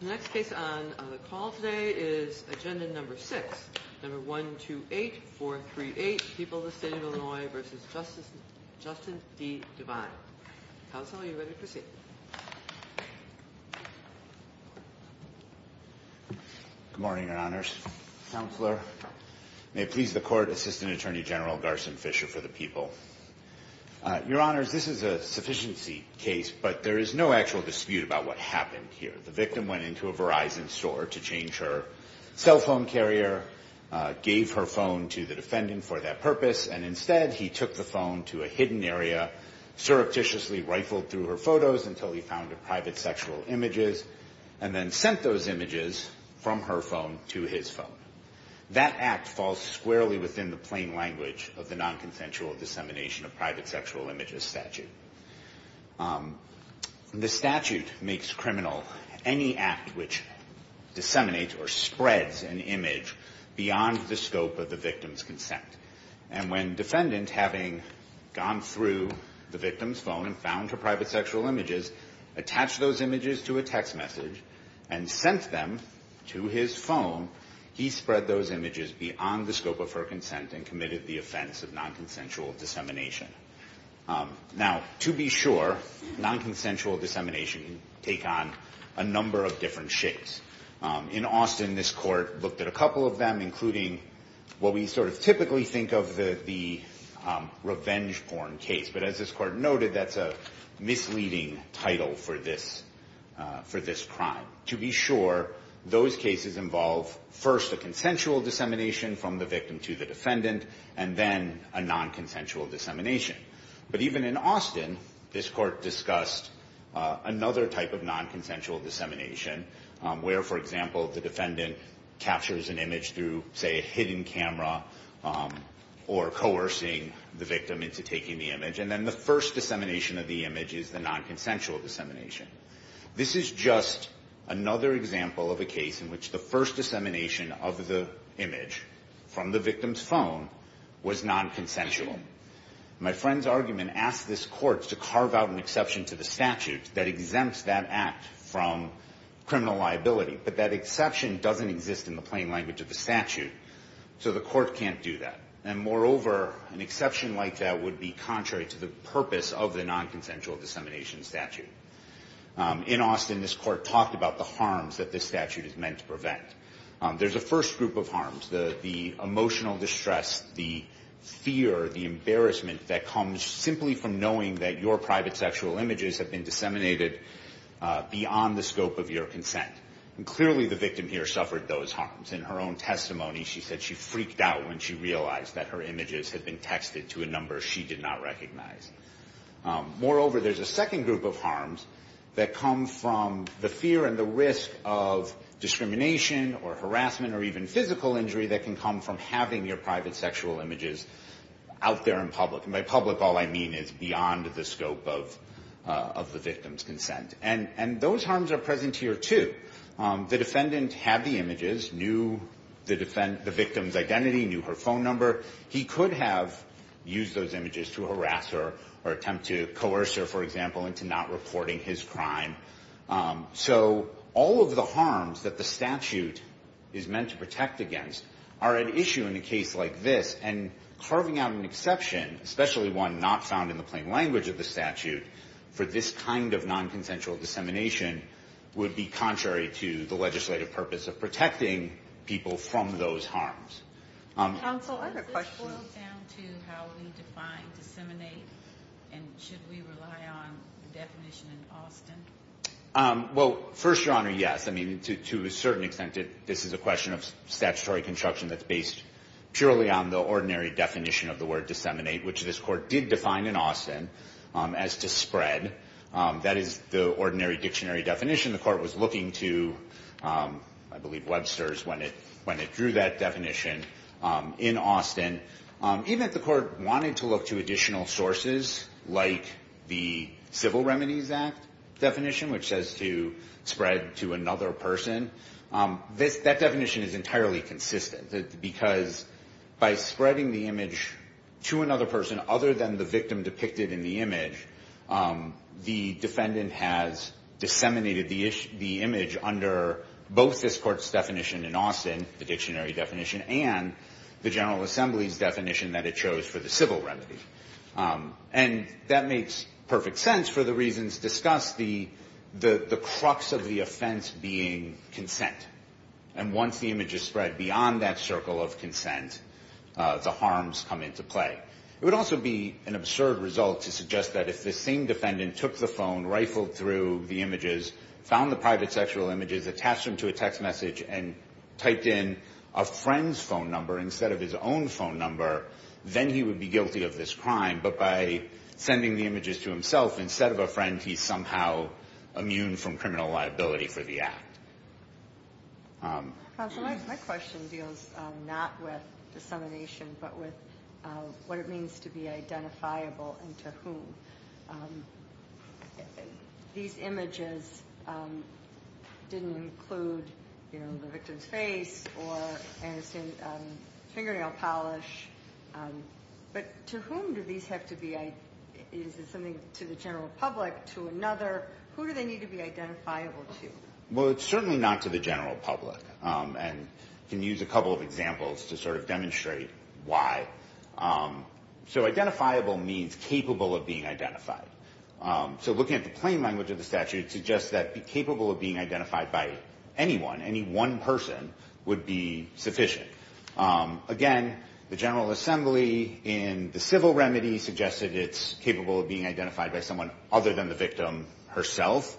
The next case on the call today is agenda number six. Number 128438, People of the State of Illinois v. Justin D. Devine. Counsel, are you ready to proceed? Good morning, Your Honors. Counselor, may it please the Court, Assistant Attorney General Garson Fisher for the People. Your Honors, this is a sufficiency case, but there is no actual dispute about what happened here. The victim went into a Verizon store to change her cell phone carrier, gave her phone to the defendant for that purpose, and instead he took the phone to a hidden area, surreptitiously rifled through her photos until he found her private sexual images, and then sent those images from her phone to his phone. That act falls squarely within the plain language of the nonconsensual dissemination of private sexual images statute. The statute makes criminal any act which disseminates or spreads an image beyond the scope of the victim's consent. And when defendant, having gone through the victim's phone and found her private sexual images, attached those images to a text message and sent them to his phone, he spread those images beyond the scope of her consent and committed the offense of nonconsensual dissemination. Now, to be sure, nonconsensual dissemination can take on a number of different shapes. In Austin, this Court looked at a couple of them, including what we sort of typically think of the revenge porn case. But as this Court noted, that's a misleading title for this crime. To be sure, those cases involve first a consensual dissemination from the victim to the defendant, and then a nonconsensual dissemination. But even in Austin, this Court discussed another type of nonconsensual dissemination, where, for example, the defendant captures an image through, say, a hidden camera or coercing the victim into taking the image. And then the first dissemination of the image is the nonconsensual dissemination. This is just another example of a case in which the first dissemination of the image from the victim's phone was nonconsensual. My friend's argument asks this Court to carve out an exception to the statute that exempts that act from criminal liability. But that exception doesn't exist in the plain language of the statute, so the Court can't do that. And moreover, an exception like that would be contrary to the purpose of the nonconsensual dissemination statute. In Austin, this Court talked about the harms that this statute is meant to prevent. There's a first group of harms, the emotional distress, the fear, the embarrassment that comes simply from knowing that your private sexual images have been disseminated beyond the scope of your consent. And clearly, the victim here suffered those harms. In her own testimony, she said she freaked out when she realized that her images had been texted to a number she did not recognize. Moreover, there's a second group of harms that come from the fear and the risk of discrimination or harassment or even physical injury that can come from having your private sexual images out there in public. And by public, all I mean is beyond the scope of the victim's consent. And those harms are present here, too. The defendant had the images, knew the victim's identity, knew her phone number. He could have used those images to harass her or attempt to coerce her, for example, into not reporting his crime. So all of the harms that the statute is meant to protect against are at issue in a case like this. And carving out an exception, especially one not found in the plain language of the statute, for this kind of nonconsensual dissemination would be contrary to the legislative purpose of protecting people from those harms. Counsel, I have a question. Is this boiled down to how we define disseminate? And should we rely on the definition in Austin? Well, first, Your Honor, yes. I mean, to a certain extent, this is a question of statutory construction that's based purely on the ordinary definition of the word disseminate, which this Court did define in Austin as to spread. That is the ordinary dictionary definition the Court was looking to, I believe Webster's when it drew that definition in Austin. Even if the Court wanted to look to additional sources, like the Civil Remedies Act definition, which says to spread to another person, that definition is entirely consistent. Because by spreading the image to another person other than the victim depicted in the image, the defendant has disseminated the image under both this Court's definition in Austin, the dictionary definition, and the General Assembly's definition that it chose for the civil remedy. And that makes perfect sense for the reasons discussed, the crux of the offense being consent. And once the image is spread beyond that circle of consent, the harms come into play. It would also be an absurd result to suggest that if the same defendant took the phone, rifled through the images, found the private sexual images, attached them to a text message, and typed in a friend's phone number instead of his own phone number, then he would be guilty of this crime. But by sending the images to himself instead of a friend, he's somehow immune from criminal liability for the act. My question deals not with dissemination, but with what it means to be identifiable and to whom. These images didn't include the victim's face or fingernail polish, but to whom do these have to be? Is it something to the general public, to another? Who do they need to be identifiable to? Well, it's certainly not to the general public. And I can use a couple of examples to sort of demonstrate why. So identifiable means capable of being identified. So looking at the plain language of the statute, it suggests that capable of being identified by anyone, any one person, would be sufficient. Again, the General Assembly in the civil remedy suggested it's capable of being identified by someone other than the victim herself.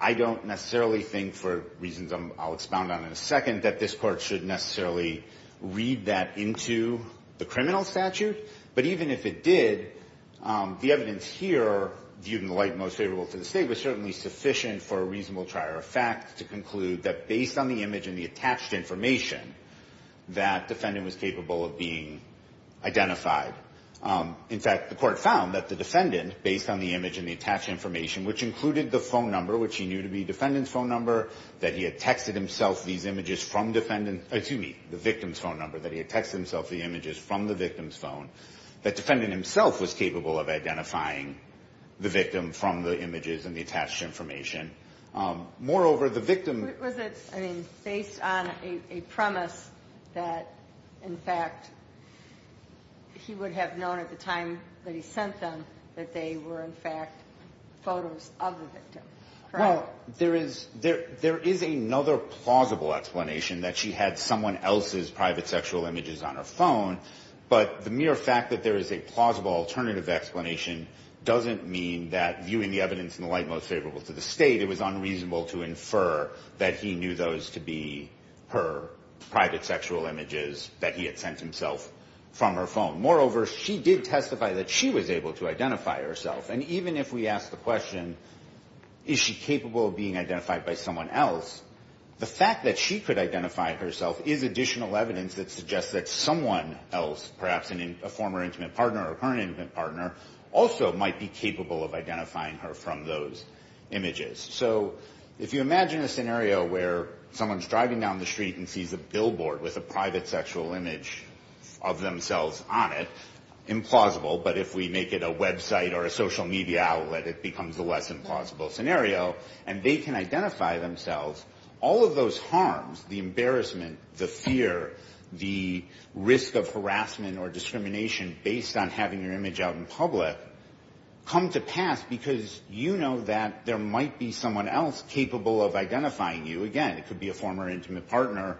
I don't necessarily think, for reasons I'll expound on in a second, that this court should necessarily read that into the criminal statute. But even if it did, the evidence here, viewed in the light most favorable to the state, was certainly sufficient for a reasonable trier of facts to conclude that based on the image and the attached information, that defendant was capable of being identified. In fact, the court found that the defendant, based on the image and the attached information, which included the phone number, which he knew to be defendant's phone number, that he had texted himself these images from defendant's, excuse me, the victim's phone number, that he had texted himself the images from the victim's phone, that defendant himself was capable of identifying the victim from the images and the attached information. Moreover, the victim... Was it, I mean, based on a premise that, in fact, he would have known at the time that he sent them that they were, in fact, photos of the victim, correct? Well, there is another plausible explanation, that she had someone else's private sexual images on her phone, but the mere fact that there is a plausible alternative explanation doesn't mean that, viewing the evidence in the light most favorable to the state, it was unreasonable to infer that he knew those to be her private sexual images that he had sent himself from her phone. Moreover, she did testify that she was able to identify herself, and even if we ask the question, is she capable of being identified by someone else, the fact that she could identify herself is additional evidence that suggests that someone else, perhaps a former intimate partner or current intimate partner, also might be capable of identifying her from those images. So, if you imagine a scenario where someone's driving down the street and sees a billboard with a private sexual image of themselves on it, implausible, but if we make it a website or a social media outlet, it becomes the less implausible scenario, and they can identify themselves, all of those harms, the embarrassment, the fear, the risk of harassment or discrimination based on having your image out in public, come to pass because you know that there might be someone else capable of identifying you. Again, it could be a former intimate partner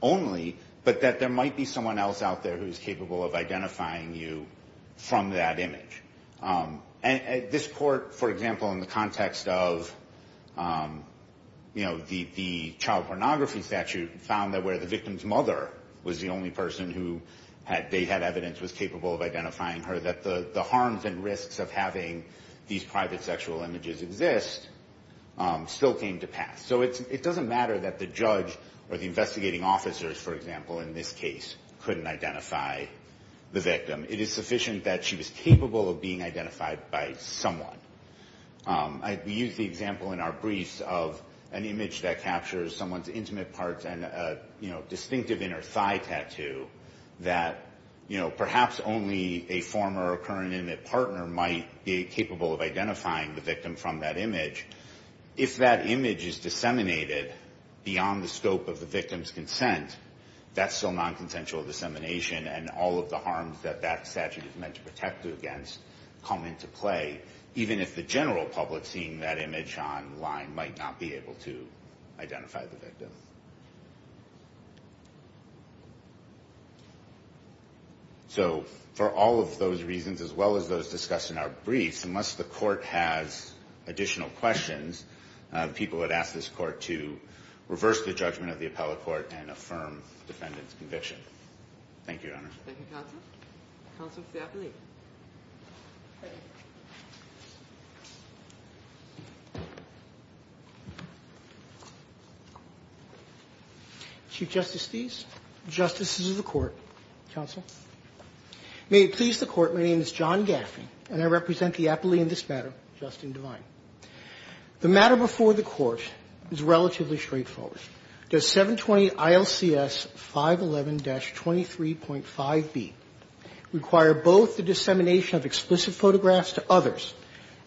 only, but that there might be someone else out there who's capable of identifying you from that image. This court, for example, in the context of the child pornography statute, found that where the victim's mother was the only person who they had evidence was capable of identifying her, that the harms and risks of having these private sexual images exist still came to pass. So it doesn't matter that the judge or the investigating officers, for example, in this case, couldn't identify the victim. It is sufficient that she was capable of being identified by someone. We use the example in our briefs of an image that captures someone's intimate parts and a distinctive inner thigh tattoo that perhaps only a former or current intimate partner might be capable of identifying the victim from that image. If that image is disseminated beyond the scope of the victim's consent, that's still nonconsensual dissemination, and all of the harms that that statute is meant to protect against come into play, even if the general public seeing that image online might not be able to identify the victim. So for all of those reasons, as well as those discussed in our briefs, unless the court has additional questions, people would ask this court to reverse the judgment of the appellate court and affirm the defendant's conviction. Thank you, Your Honor. Thank you, Counsel. Counsel to the appealee. Chief Justice Steeves, Justices of the Court, Counsel. May it please the Court, my name is John Gaffney, and I represent the appelee in this matter, Justin Devine. The matter before the Court is relatively straightforward. Does 720 ILCS 511-23.5b require both the dissemination of explicit photographs to others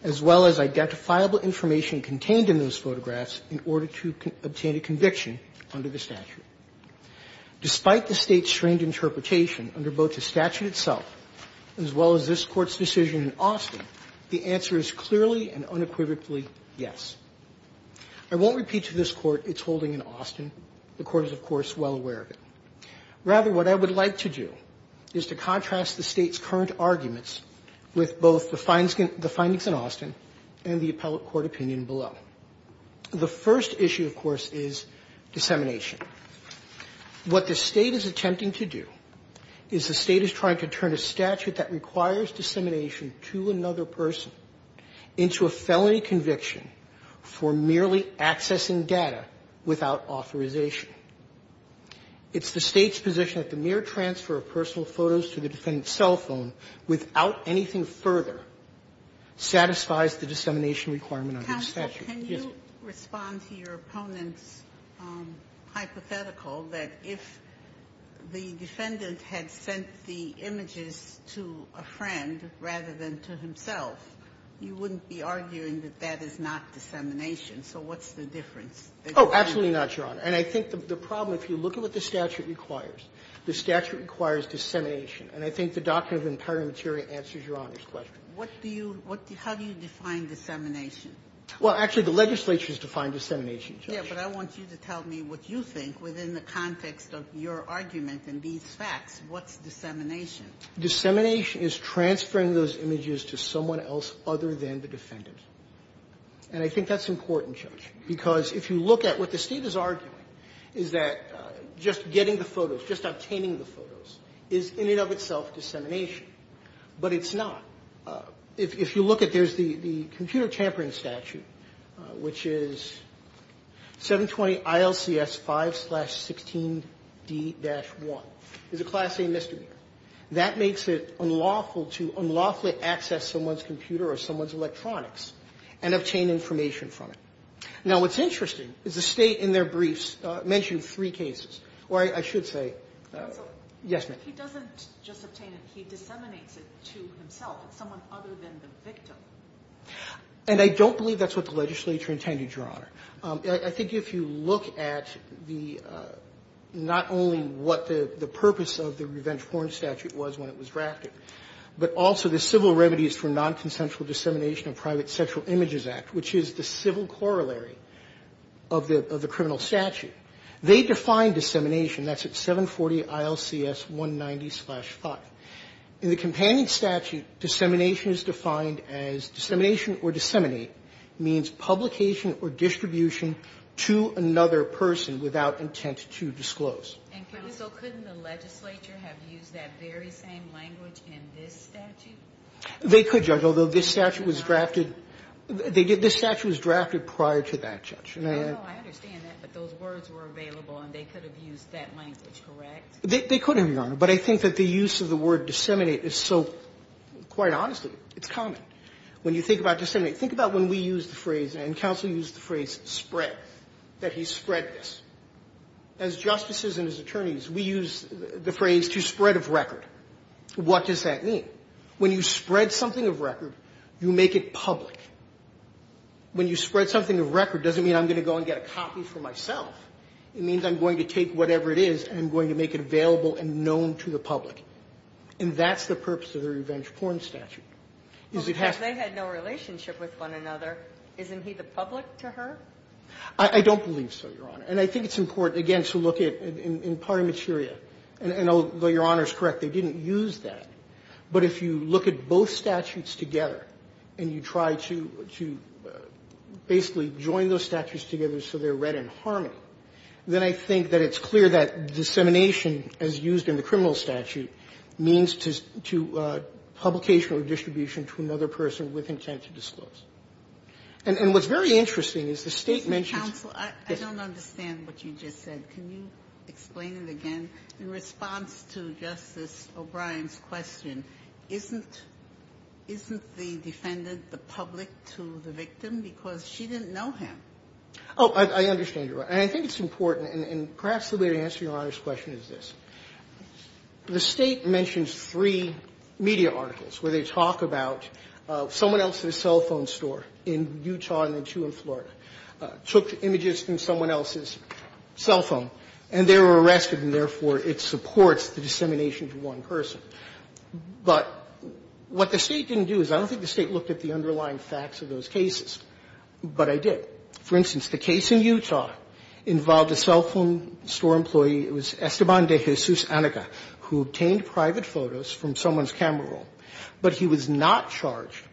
as well as identifiable information contained in those photographs in order to obtain a conviction under the statute? Despite the State's strained interpretation under both the statute itself as well as this Court's decision in Austin, the answer is clearly and unequivocally yes. I won't repeat to this Court its holding in Austin. The Court is, of course, well aware of it. Rather, what I would like to do is to contrast the State's current arguments with both the findings in Austin and the appellate court opinion below. The first issue, of course, is dissemination. What the State is attempting to do is the State is trying to turn a statute that requires dissemination to another person into a felony conviction for merely accessing data without authorization. It's the State's position that the mere transfer of personal photos to the defendant's cell phone without anything further satisfies the dissemination requirement under the statute. Ginsburg. Ginsburg. Can you respond to your opponent's hypothetical that if the defendant had sent the defendant a friend rather than to himself, you wouldn't be arguing that that is not dissemination? So what's the difference? Oh, absolutely not, Your Honor. And I think the problem, if you look at what the statute requires, the statute requires dissemination. And I think the Doctrine of Empire and Materia answers Your Honor's question. What do you do? How do you define dissemination? Well, actually, the legislature has defined dissemination, Judge. Yes, but I want you to tell me what you think within the context of your argument and these facts. What's dissemination? Dissemination is transferring those images to someone else other than the defendant. And I think that's important, Judge, because if you look at what the State is arguing is that just getting the photos, just obtaining the photos, is in and of itself dissemination. But it's not. If you look at, there's the computer tampering statute, which is 720-ILCS-5-16D-1. It's a Class A misdemeanor. That makes it unlawful to unlawfully access someone's computer or someone's electronics and obtain information from it. Now, what's interesting is the State in their briefs mentioned three cases. Or I should say yes, ma'am. He doesn't just obtain it. He disseminates it to himself. It's someone other than the victim. And I don't believe that's what the legislature intended, Your Honor. I think if you look at the, not only what the purpose of the revenge porn statute was when it was drafted, but also the Civil Remedies for Nonconsensual Dissemination of Private Sexual Images Act, which is the civil corollary of the criminal statute, they define dissemination. That's at 740-ILCS-190-5. In the companion statute, dissemination is defined as dissemination or disseminate means publication or distribution to another person without intent to disclose. And so couldn't the legislature have used that very same language in this statute? They could, Judge, although this statute was drafted prior to that, Judge. I understand that, but those words were available and they could have used that language, correct? They could have, Your Honor, but I think that the use of the word disseminate is so, quite honestly, it's common. When you think about disseminate, think about when we use the phrase, and counsel used the phrase spread, that he spread this. As justices and as attorneys, we use the phrase to spread of record. What does that mean? When you spread something of record, you make it public. When you spread something of record, it doesn't mean I'm going to go and get a copy for myself. It means I'm going to take whatever it is and I'm going to make it available and known to the public. And that's the purpose of the revenge porn statute. Because they had no relationship with one another. Isn't he the public to her? I don't believe so, Your Honor. And I think it's important, again, to look at, in Parliament's area, and although Your Honor is correct, they didn't use that. But if you look at both statutes together and you try to basically join those statutes together so they're read in harmony, then I think that it's clear that dissemination as used in the criminal statute means to publication or distribution to another person with intent to disclose. And what's very interesting is the State mentions the... Ginsburg. I don't understand what you just said. Can you explain it again? In response to Justice O'Brien's question, isn't the defendant the public to the victim because she didn't know him? Oh, I understand. And I think it's important. And perhaps the way to answer Your Honor's question is this. The State mentions three media articles where they talk about someone else's cell phone store in Utah and then two in Florida took images from someone else's cell phone, and they were arrested, and therefore it supports the dissemination to one person. But what the State didn't do is I don't think the State looked at the underlying facts of those cases, but I did. For instance, the case in Utah involved a cell phone store employee. It was Esteban de Jesus Anica who obtained private photos from someone's camera roll. But he was not charged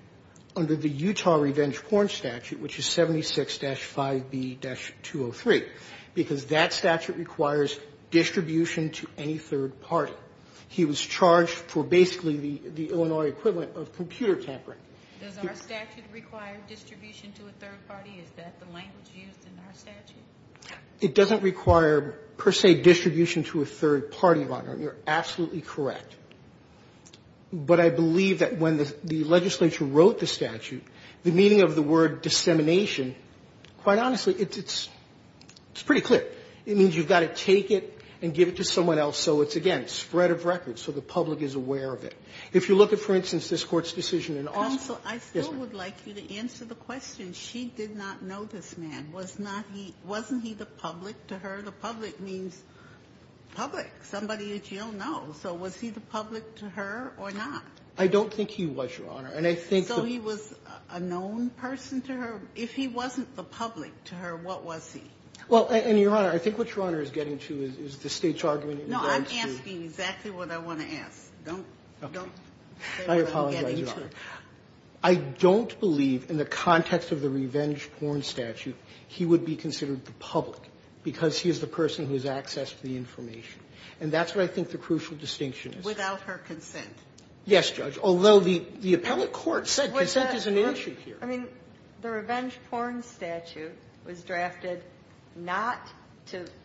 under the Utah Revenge Porn Statute, which is 76-5B-203, because that statute requires distribution to any third party. He was charged for basically the Illinois equivalent of computer tampering. Does our statute require distribution to a third party? Is that the language used in our statute? It doesn't require, per se, distribution to a third party, Your Honor. You're absolutely correct. But I believe that when the legislature wrote the statute, the meaning of the word dissemination, quite honestly, it's pretty clear. It means you've got to take it and give it to someone else. So it's, again, spread of record so the public is aware of it. If you look at, for instance, this Court's decision in Austin. Ginsburg-Gillis. Counsel, I still would like you to answer the question. She did not know this man. Was not he – wasn't he the public to her? The public means public, somebody that you don't know. So was he the public to her or not? I don't think he was, Your Honor. And I think the – So he was a known person to her? If he wasn't the public to her, what was he? Well, and Your Honor, I think what Your Honor is getting to is the State's argument in regards to – No, I'm asking exactly what I want to ask. Don't – don't say what I'm getting to. I apologize, Your Honor. I don't believe in the context of the revenge porn statute he would be considered the public because he is the person who has access to the information. And that's what I think the crucial distinction is. Without her consent. Yes, Judge, although the appellate court said consent is an issue here. I mean, the revenge porn statute was drafted not to –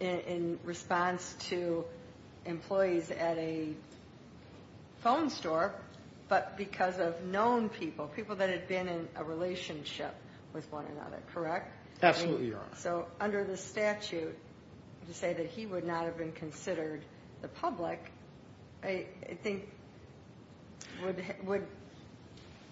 in response to employees at a phone store, but because of known people, people that had been in a relationship with one another, correct? Absolutely, Your Honor. So under the statute, to say that he would not have been considered the public, I think would,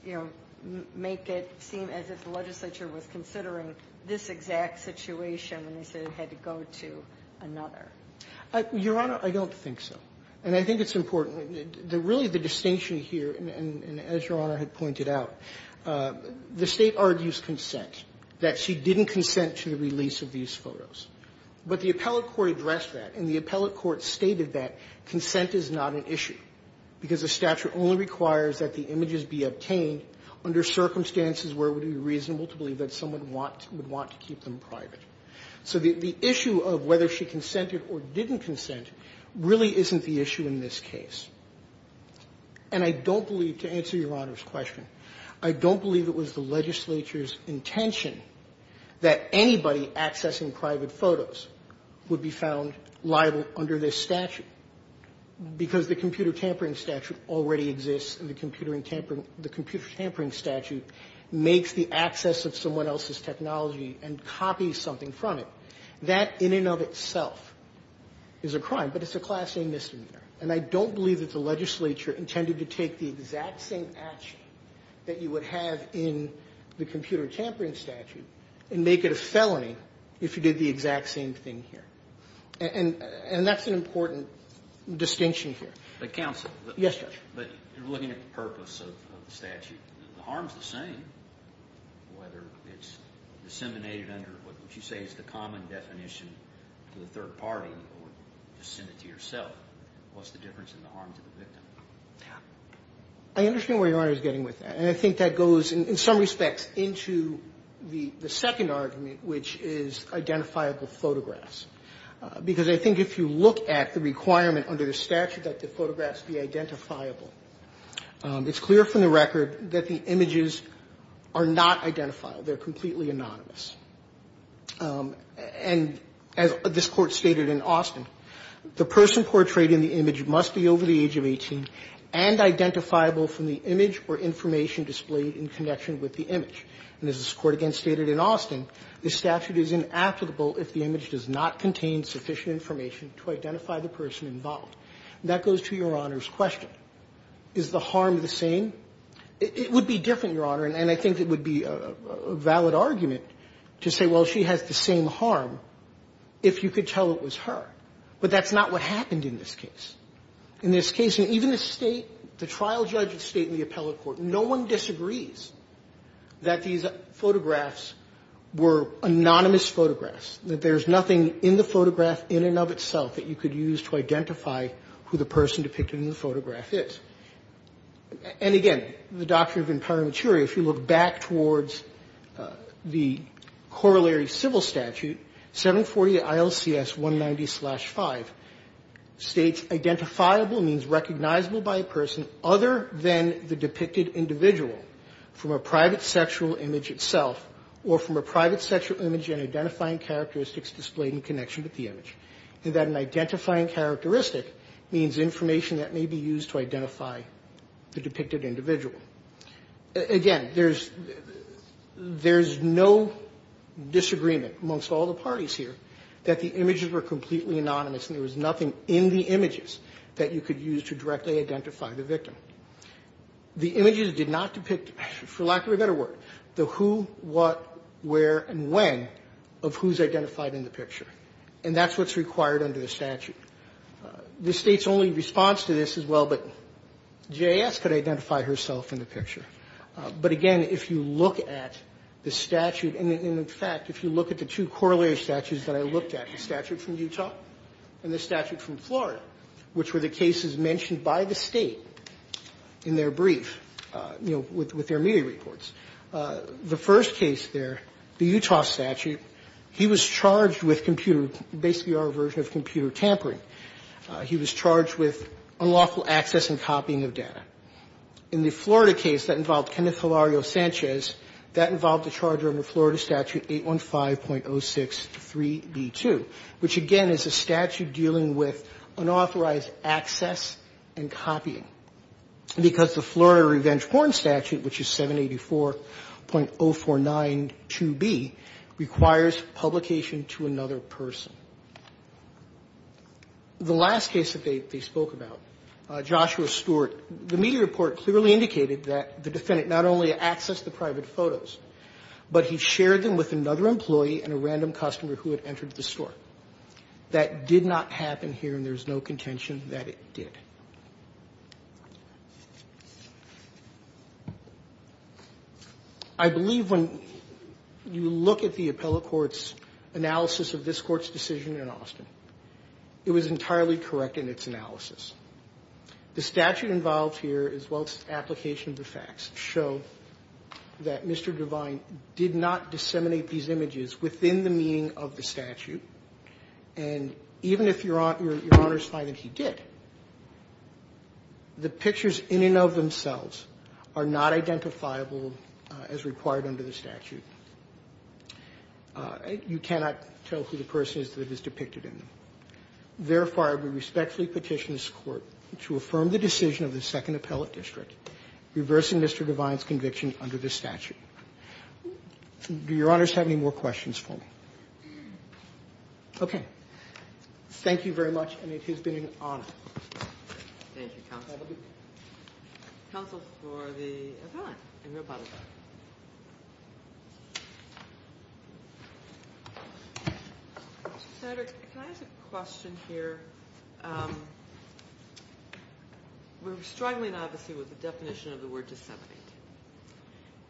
you know, make it seem as if the legislature was considering this exact situation when they said it had to go to another. Your Honor, I don't think so. And I think it's important. Really, the distinction here, and as Your Honor had pointed out, the State argues consent, that she didn't consent to the release of these photos. But the appellate court addressed that. And the appellate court stated that consent is not an issue because the statute only requires that the images be obtained under circumstances where it would be reasonable to believe that someone would want to keep them private. So the issue of whether she consented or didn't consent really isn't the issue in this case. And I don't believe, to answer Your Honor's question, I don't believe it was the legislature's intention that anybody accessing private photos would be found liable under this statute, because the computer tampering statute already exists and the computer tampering statute makes the access of someone else's technology and copies something from it. That in and of itself is a crime, but it's a class-A misdemeanor. And I don't believe that the legislature intended to take the exact same action that you would have in the computer tampering statute and make it a felony if you did the exact same thing here. And that's an important distinction here. But counsel. Yes, Judge. But you're looking at the purpose of the statute. The harm is the same, whether it's disseminated under what you say is the common definition to the third party or just send it to yourself. What's the difference in the harm to the victim? Yeah. I understand where Your Honor is getting with that. And I think that goes, in some respects, into the second argument, which is identifiable photographs. Because I think if you look at the requirement under the statute that the photographs be identifiable, it's clear from the record that the images are not identifiable. They're completely anonymous. And as this Court stated in Austin, the person portrayed in the image must be over the age of 18 and identifiable from the image or information displayed in connection with the image. And as this Court again stated in Austin, the statute is inapplicable if the image does not contain sufficient information to identify the person involved. And that goes to Your Honor's question. Is the harm the same? It would be different, Your Honor, and I think it would be a valid argument to say, well, she has the same harm if you could tell it was her. But that's not what happened in this case. In this case, and even the State, the trial judge of State and the appellate court, no one disagrees that these photographs were anonymous photographs, that there's nothing in the photograph in and of itself that you could use to identify who the person depicted in the photograph is. And again, the doctrine of imperimaturia, if you look back towards the corollary of civil statute, 740 ILCS 190-5, states identifiable means recognizable by a person other than the depicted individual from a private sexual image itself or from a private sexual image and identifying characteristics displayed in connection with the image, and that an identifying characteristic means information that may be used to identify the depicted individual. Again, there's no disagreement amongst all the parties here that the images were completely anonymous and there was nothing in the images that you could use to directly identify the victim. The images did not depict, for lack of a better word, the who, what, where, and when of who's identified in the picture, and that's what's required under the statute. The State's only response to this is, well, but J.S. could identify herself in the picture. But again, if you look at the statute, and in fact, if you look at the two corollary statutes that I looked at, the statute from Utah and the statute from Florida, which were the cases mentioned by the State in their brief, you know, with their media reports, the first case there, the Utah statute, he was charged with computer tampering, basically our version of computer tampering. He was charged with unlawful access and copying of data. In the Florida case that involved Kenneth Hilario Sanchez, that involved a charge under Florida Statute 815.063b2, which again is a statute dealing with unauthorized access and copying, because the Florida Revenge Warrant Statute, which is 784.049 requires publication to another person. The last case that they spoke about, Joshua Stewart, the media report clearly indicated that the defendant not only accessed the private photos, but he shared them with another employee and a random customer who had entered the store. That did not happen here, and there's no contention that it did. I believe when you look at the appellate court's analysis of this court's decision in Austin, it was entirely correct in its analysis. The statute involved here, as well as the application of the facts, show that Mr. Devine did not disseminate these images within the meaning of the statute, and even if Your Honor's finding he did, the pictures in and of themselves are not identifiable as required under the statute. You cannot tell who the person is that is depicted in them. Therefore, I would respectfully petition this Court to affirm the decision of the Second Appellate District reversing Mr. Devine's conviction under this statute. Do Your Honors have any more questions for me? Okay. Thank you very much, and it has been an honor. Thank you, Counsel. Counsel for the appellant, Amy Rapata. Senator, can I ask a question here? We're struggling, obviously, with the definition of the word disseminate,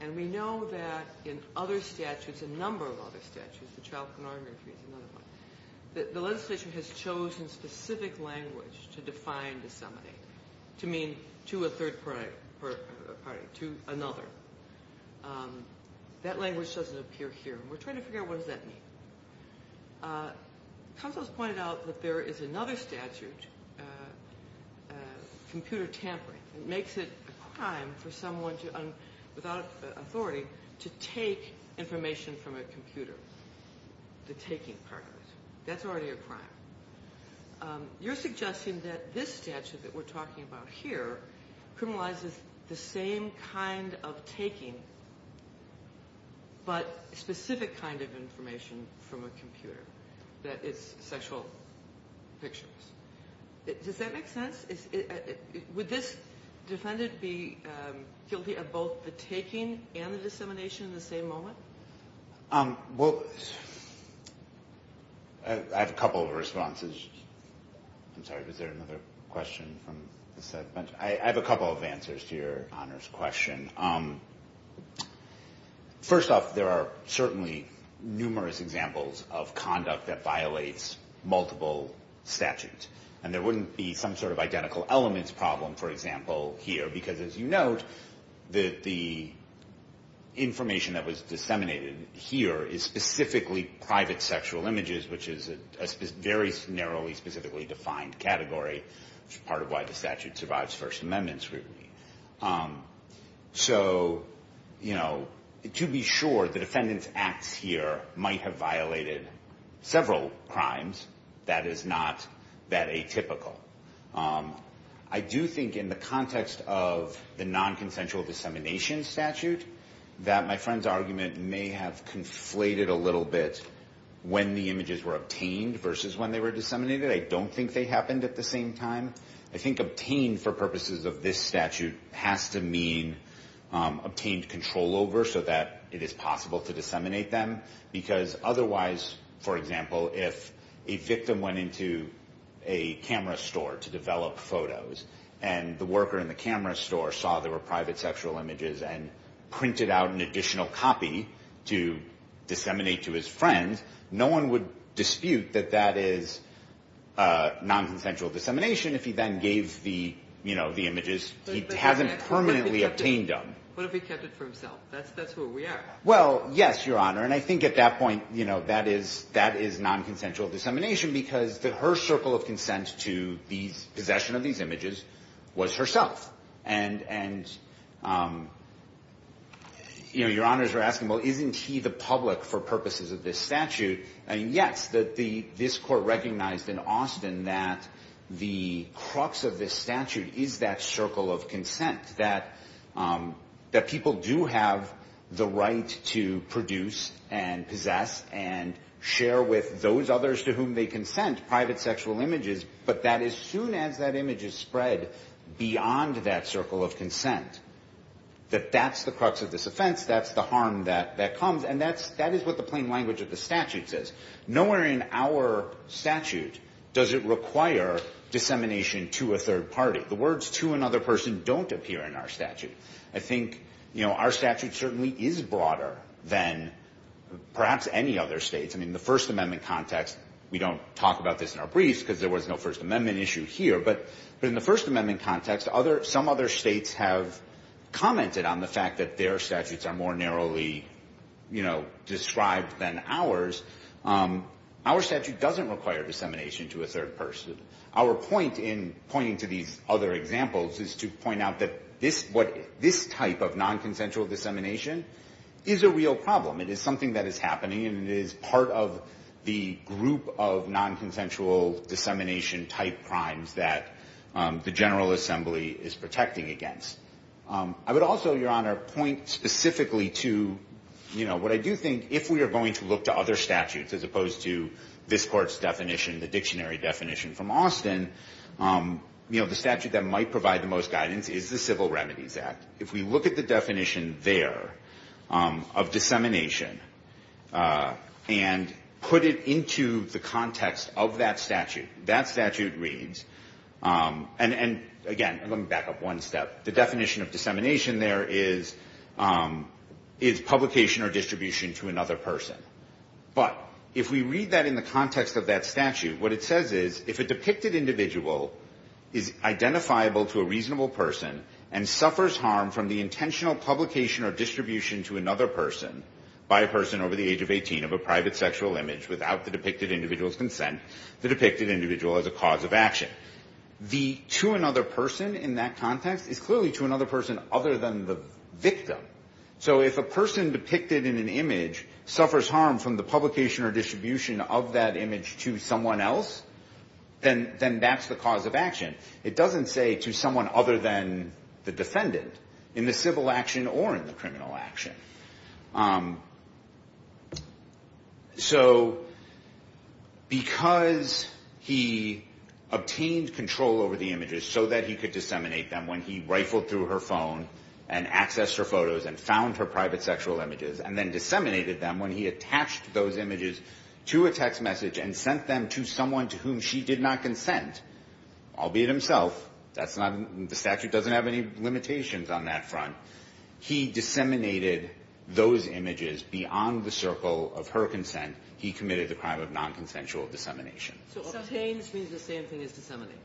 and we know that in other statutes, a number of other statutes, the child pornography is another one, that the legislation has chosen specific language to define disseminate, to mean to a third party, to another. That language doesn't appear here, and we're trying to figure out what does that mean. Counsel has pointed out that there is another statute, computer tampering. It makes it a crime for someone without authority to take information from a computer, the taking part of it. That's already a crime. You're suggesting that this statute that we're talking about here criminalizes the same kind of taking but specific kind of information from a computer, that is sexual pictures. Does that make sense? Would this defendant be guilty of both the taking and the dissemination in the same moment? Well, I have a couple of responses. I'm sorry, was there another question from this side? I have a couple of answers to your honors question. First off, there are certainly numerous examples of conduct that violates multiple statutes, and there wouldn't be some sort of identical elements problem, for example, here, because, as you note, the information that was disseminated here is specifically private sexual images, which is a very narrowly specifically defined category, which is part of why the statute survives First Amendment scrutiny. So, you know, to be sure, the defendant's acts here might have violated several crimes. That is not that atypical. I do think in the context of the nonconsensual dissemination statute that my friend's argument may have conflated a little bit when the images were obtained versus when they were disseminated. I don't think they happened at the same time. I think obtained for purposes of this statute has to mean obtained control over so that it is possible to disseminate them, because otherwise, for example, if a victim went into a camera store to develop photos and the worker in the camera store saw there were private sexual images and printed out an additional copy to disseminate to his friend, no one would dispute that that is nonconsensual dissemination if he then gave the, you know, the images. He hasn't permanently obtained them. What if he kept it for himself? That's where we are. Well, yes, Your Honor, and I think at that point, you know, that is nonconsensual dissemination because her circle of consent to the possession of these images was herself. And, you know, Your Honors are asking, well, isn't he the public for purposes of this statute? Yes, this Court recognized in Austin that the crux of this statute is that circle of consent, that people do have the right to produce and possess and share with those others to whom they consent private sexual images, but that as soon as that image is spread beyond that circle of consent, that that's the crux of this offense, that's the harm that comes, and that is what the plain language of the statute says. Nowhere in our statute does it require dissemination to a third party. The words to another person don't appear in our statute. I think, you know, our statute certainly is broader than perhaps any other state. I mean, in the First Amendment context, we don't talk about this in our briefs because there was no First Amendment issue here, but in the First Amendment context, some other states have commented on the fact that their statutes are more narrowly, you know, described than ours. Our statute doesn't require dissemination to a third person. Our point in pointing to these other examples is to point out that this type of nonconsensual dissemination is a real problem. It is something that is happening, and it is part of the group of nonconsensual dissemination type crimes that the General Assembly is protecting against. I would also, Your Honor, point specifically to, you know, what I do think, if we are going to look to other statutes as opposed to this Court's definition, the dictionary definition from Austin, you know, the statute that might provide the most guidance is the Civil Remedies Act. If we look at the definition there of dissemination and put it into the context of that statute, that statute reads, and again, let me back up one step. The definition of dissemination there is publication or distribution to another person. But if we read that in the context of that statute, what it says is, if a depicted individual is identifiable to a reasonable person and suffers harm from the intentional publication or distribution to another person by a person over the age of 18 of a private sexual image without the depicted individual's consent, the depicted individual is a cause of action. The to another person in that context is clearly to another person other than the victim. So if a person depicted in an image suffers harm from the publication or distribution of that image to someone else, then that's the cause of action. It doesn't say to someone other than the defendant in the civil action or in the criminal action. So because he obtained control over the images so that he could disseminate them when he rifled through her phone and accessed her photos and found her private sexual images and then disseminated them when he attached those images to a text message and sent them to someone to whom she did not consent, albeit himself, the statute doesn't have any limitations on that front. He disseminated those images beyond the circle of her consent. He committed the crime of nonconsensual dissemination. So obtains means the same thing as disseminate?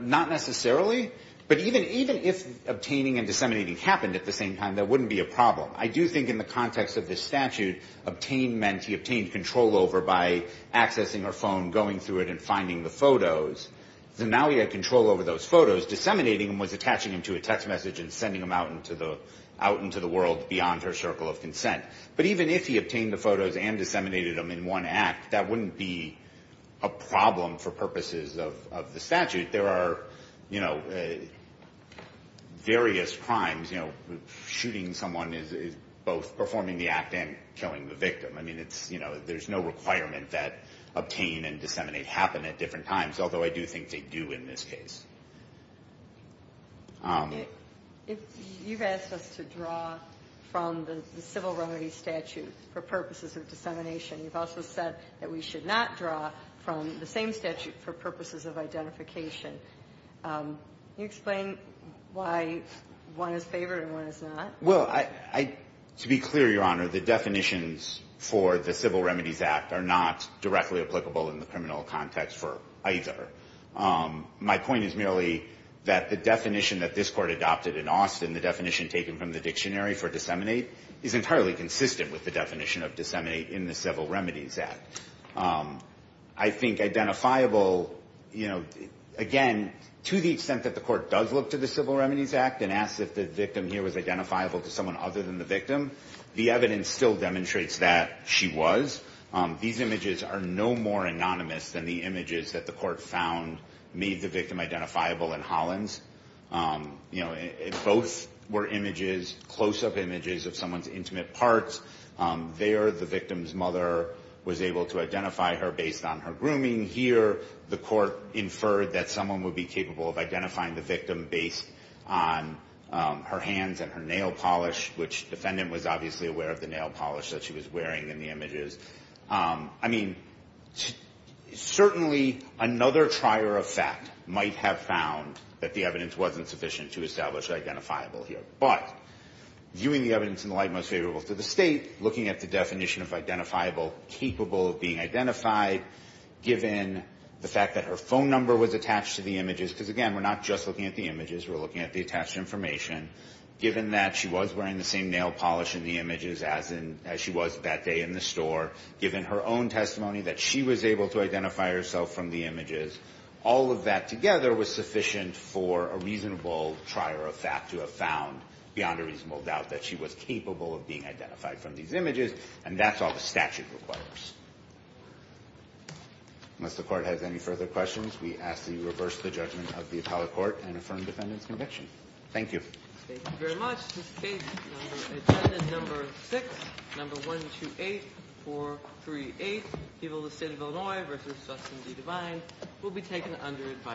Not necessarily, but even if obtaining and disseminating happened at the same time, that wouldn't be a problem. I do think in the context of this statute, obtain meant he obtained control over by accessing her phone, going through it, and finding the photos. So now he had control over those photos. Disseminating them was attaching them to a text message and sending them out into the world beyond her circle of consent. But even if he obtained the photos and disseminated them in one act, that wouldn't be a problem for purposes of the statute. There are various crimes. Shooting someone is both performing the act and killing the victim. I mean, there's no requirement that obtain and disseminate happen at different times, although I do think they do in this case. If you've asked us to draw from the civil remedies statute for purposes of dissemination, you've also said that we should not draw from the same statute for purposes of identification. Can you explain why one is favored and one is not? Well, to be clear, Your Honor, the definitions for the Civil Remedies Act are not directly applicable in the criminal context for either. My point is merely that the definition that this court adopted in Austin, the definition taken from the dictionary for disseminate, is entirely consistent with the definition of disseminate in the Civil Remedies Act. I think identifiable, you know, again, to the extent that the court does look to the Civil Remedies Act and asks if the victim here was identifiable to someone other than the victim, the evidence still demonstrates that she was. These images are no more anonymous than the images that the court found made the victim identifiable in Hollins. You know, both were images, close-up images of someone's intimate parts. There, the victim's mother was able to identify her based on her grooming. Here, the court inferred that someone would be capable of identifying the victim based on her hands and her nail polish, which the defendant was obviously aware of the nail polish that she was wearing in the images. I mean, certainly another trier of fact might have found that the evidence wasn't sufficient to establish identifiable here. But viewing the evidence in the light most favorable to the state, looking at the definition of identifiable, capable of being identified, given the fact that her phone number was attached to the images, because again, we're not just looking at the images. We're looking at the attached information. Given that she was wearing the same nail polish in the images as she was that day in the store, given her own testimony that she was able to identify herself from the images, all of that together was sufficient for a reasonable trier of fact to have found, beyond a reasonable doubt, that she was capable of being identified from these images, and that's all the statute requires. Unless the court has any further questions, we ask that you reverse the judgment of the appellate court and affirm the defendant's conviction. Thank you. Thank you very much. This case, number six, number one, two, eight, four, three, eight, People of the State of Illinois v. Sustan D. Devine, will be taken under advisory.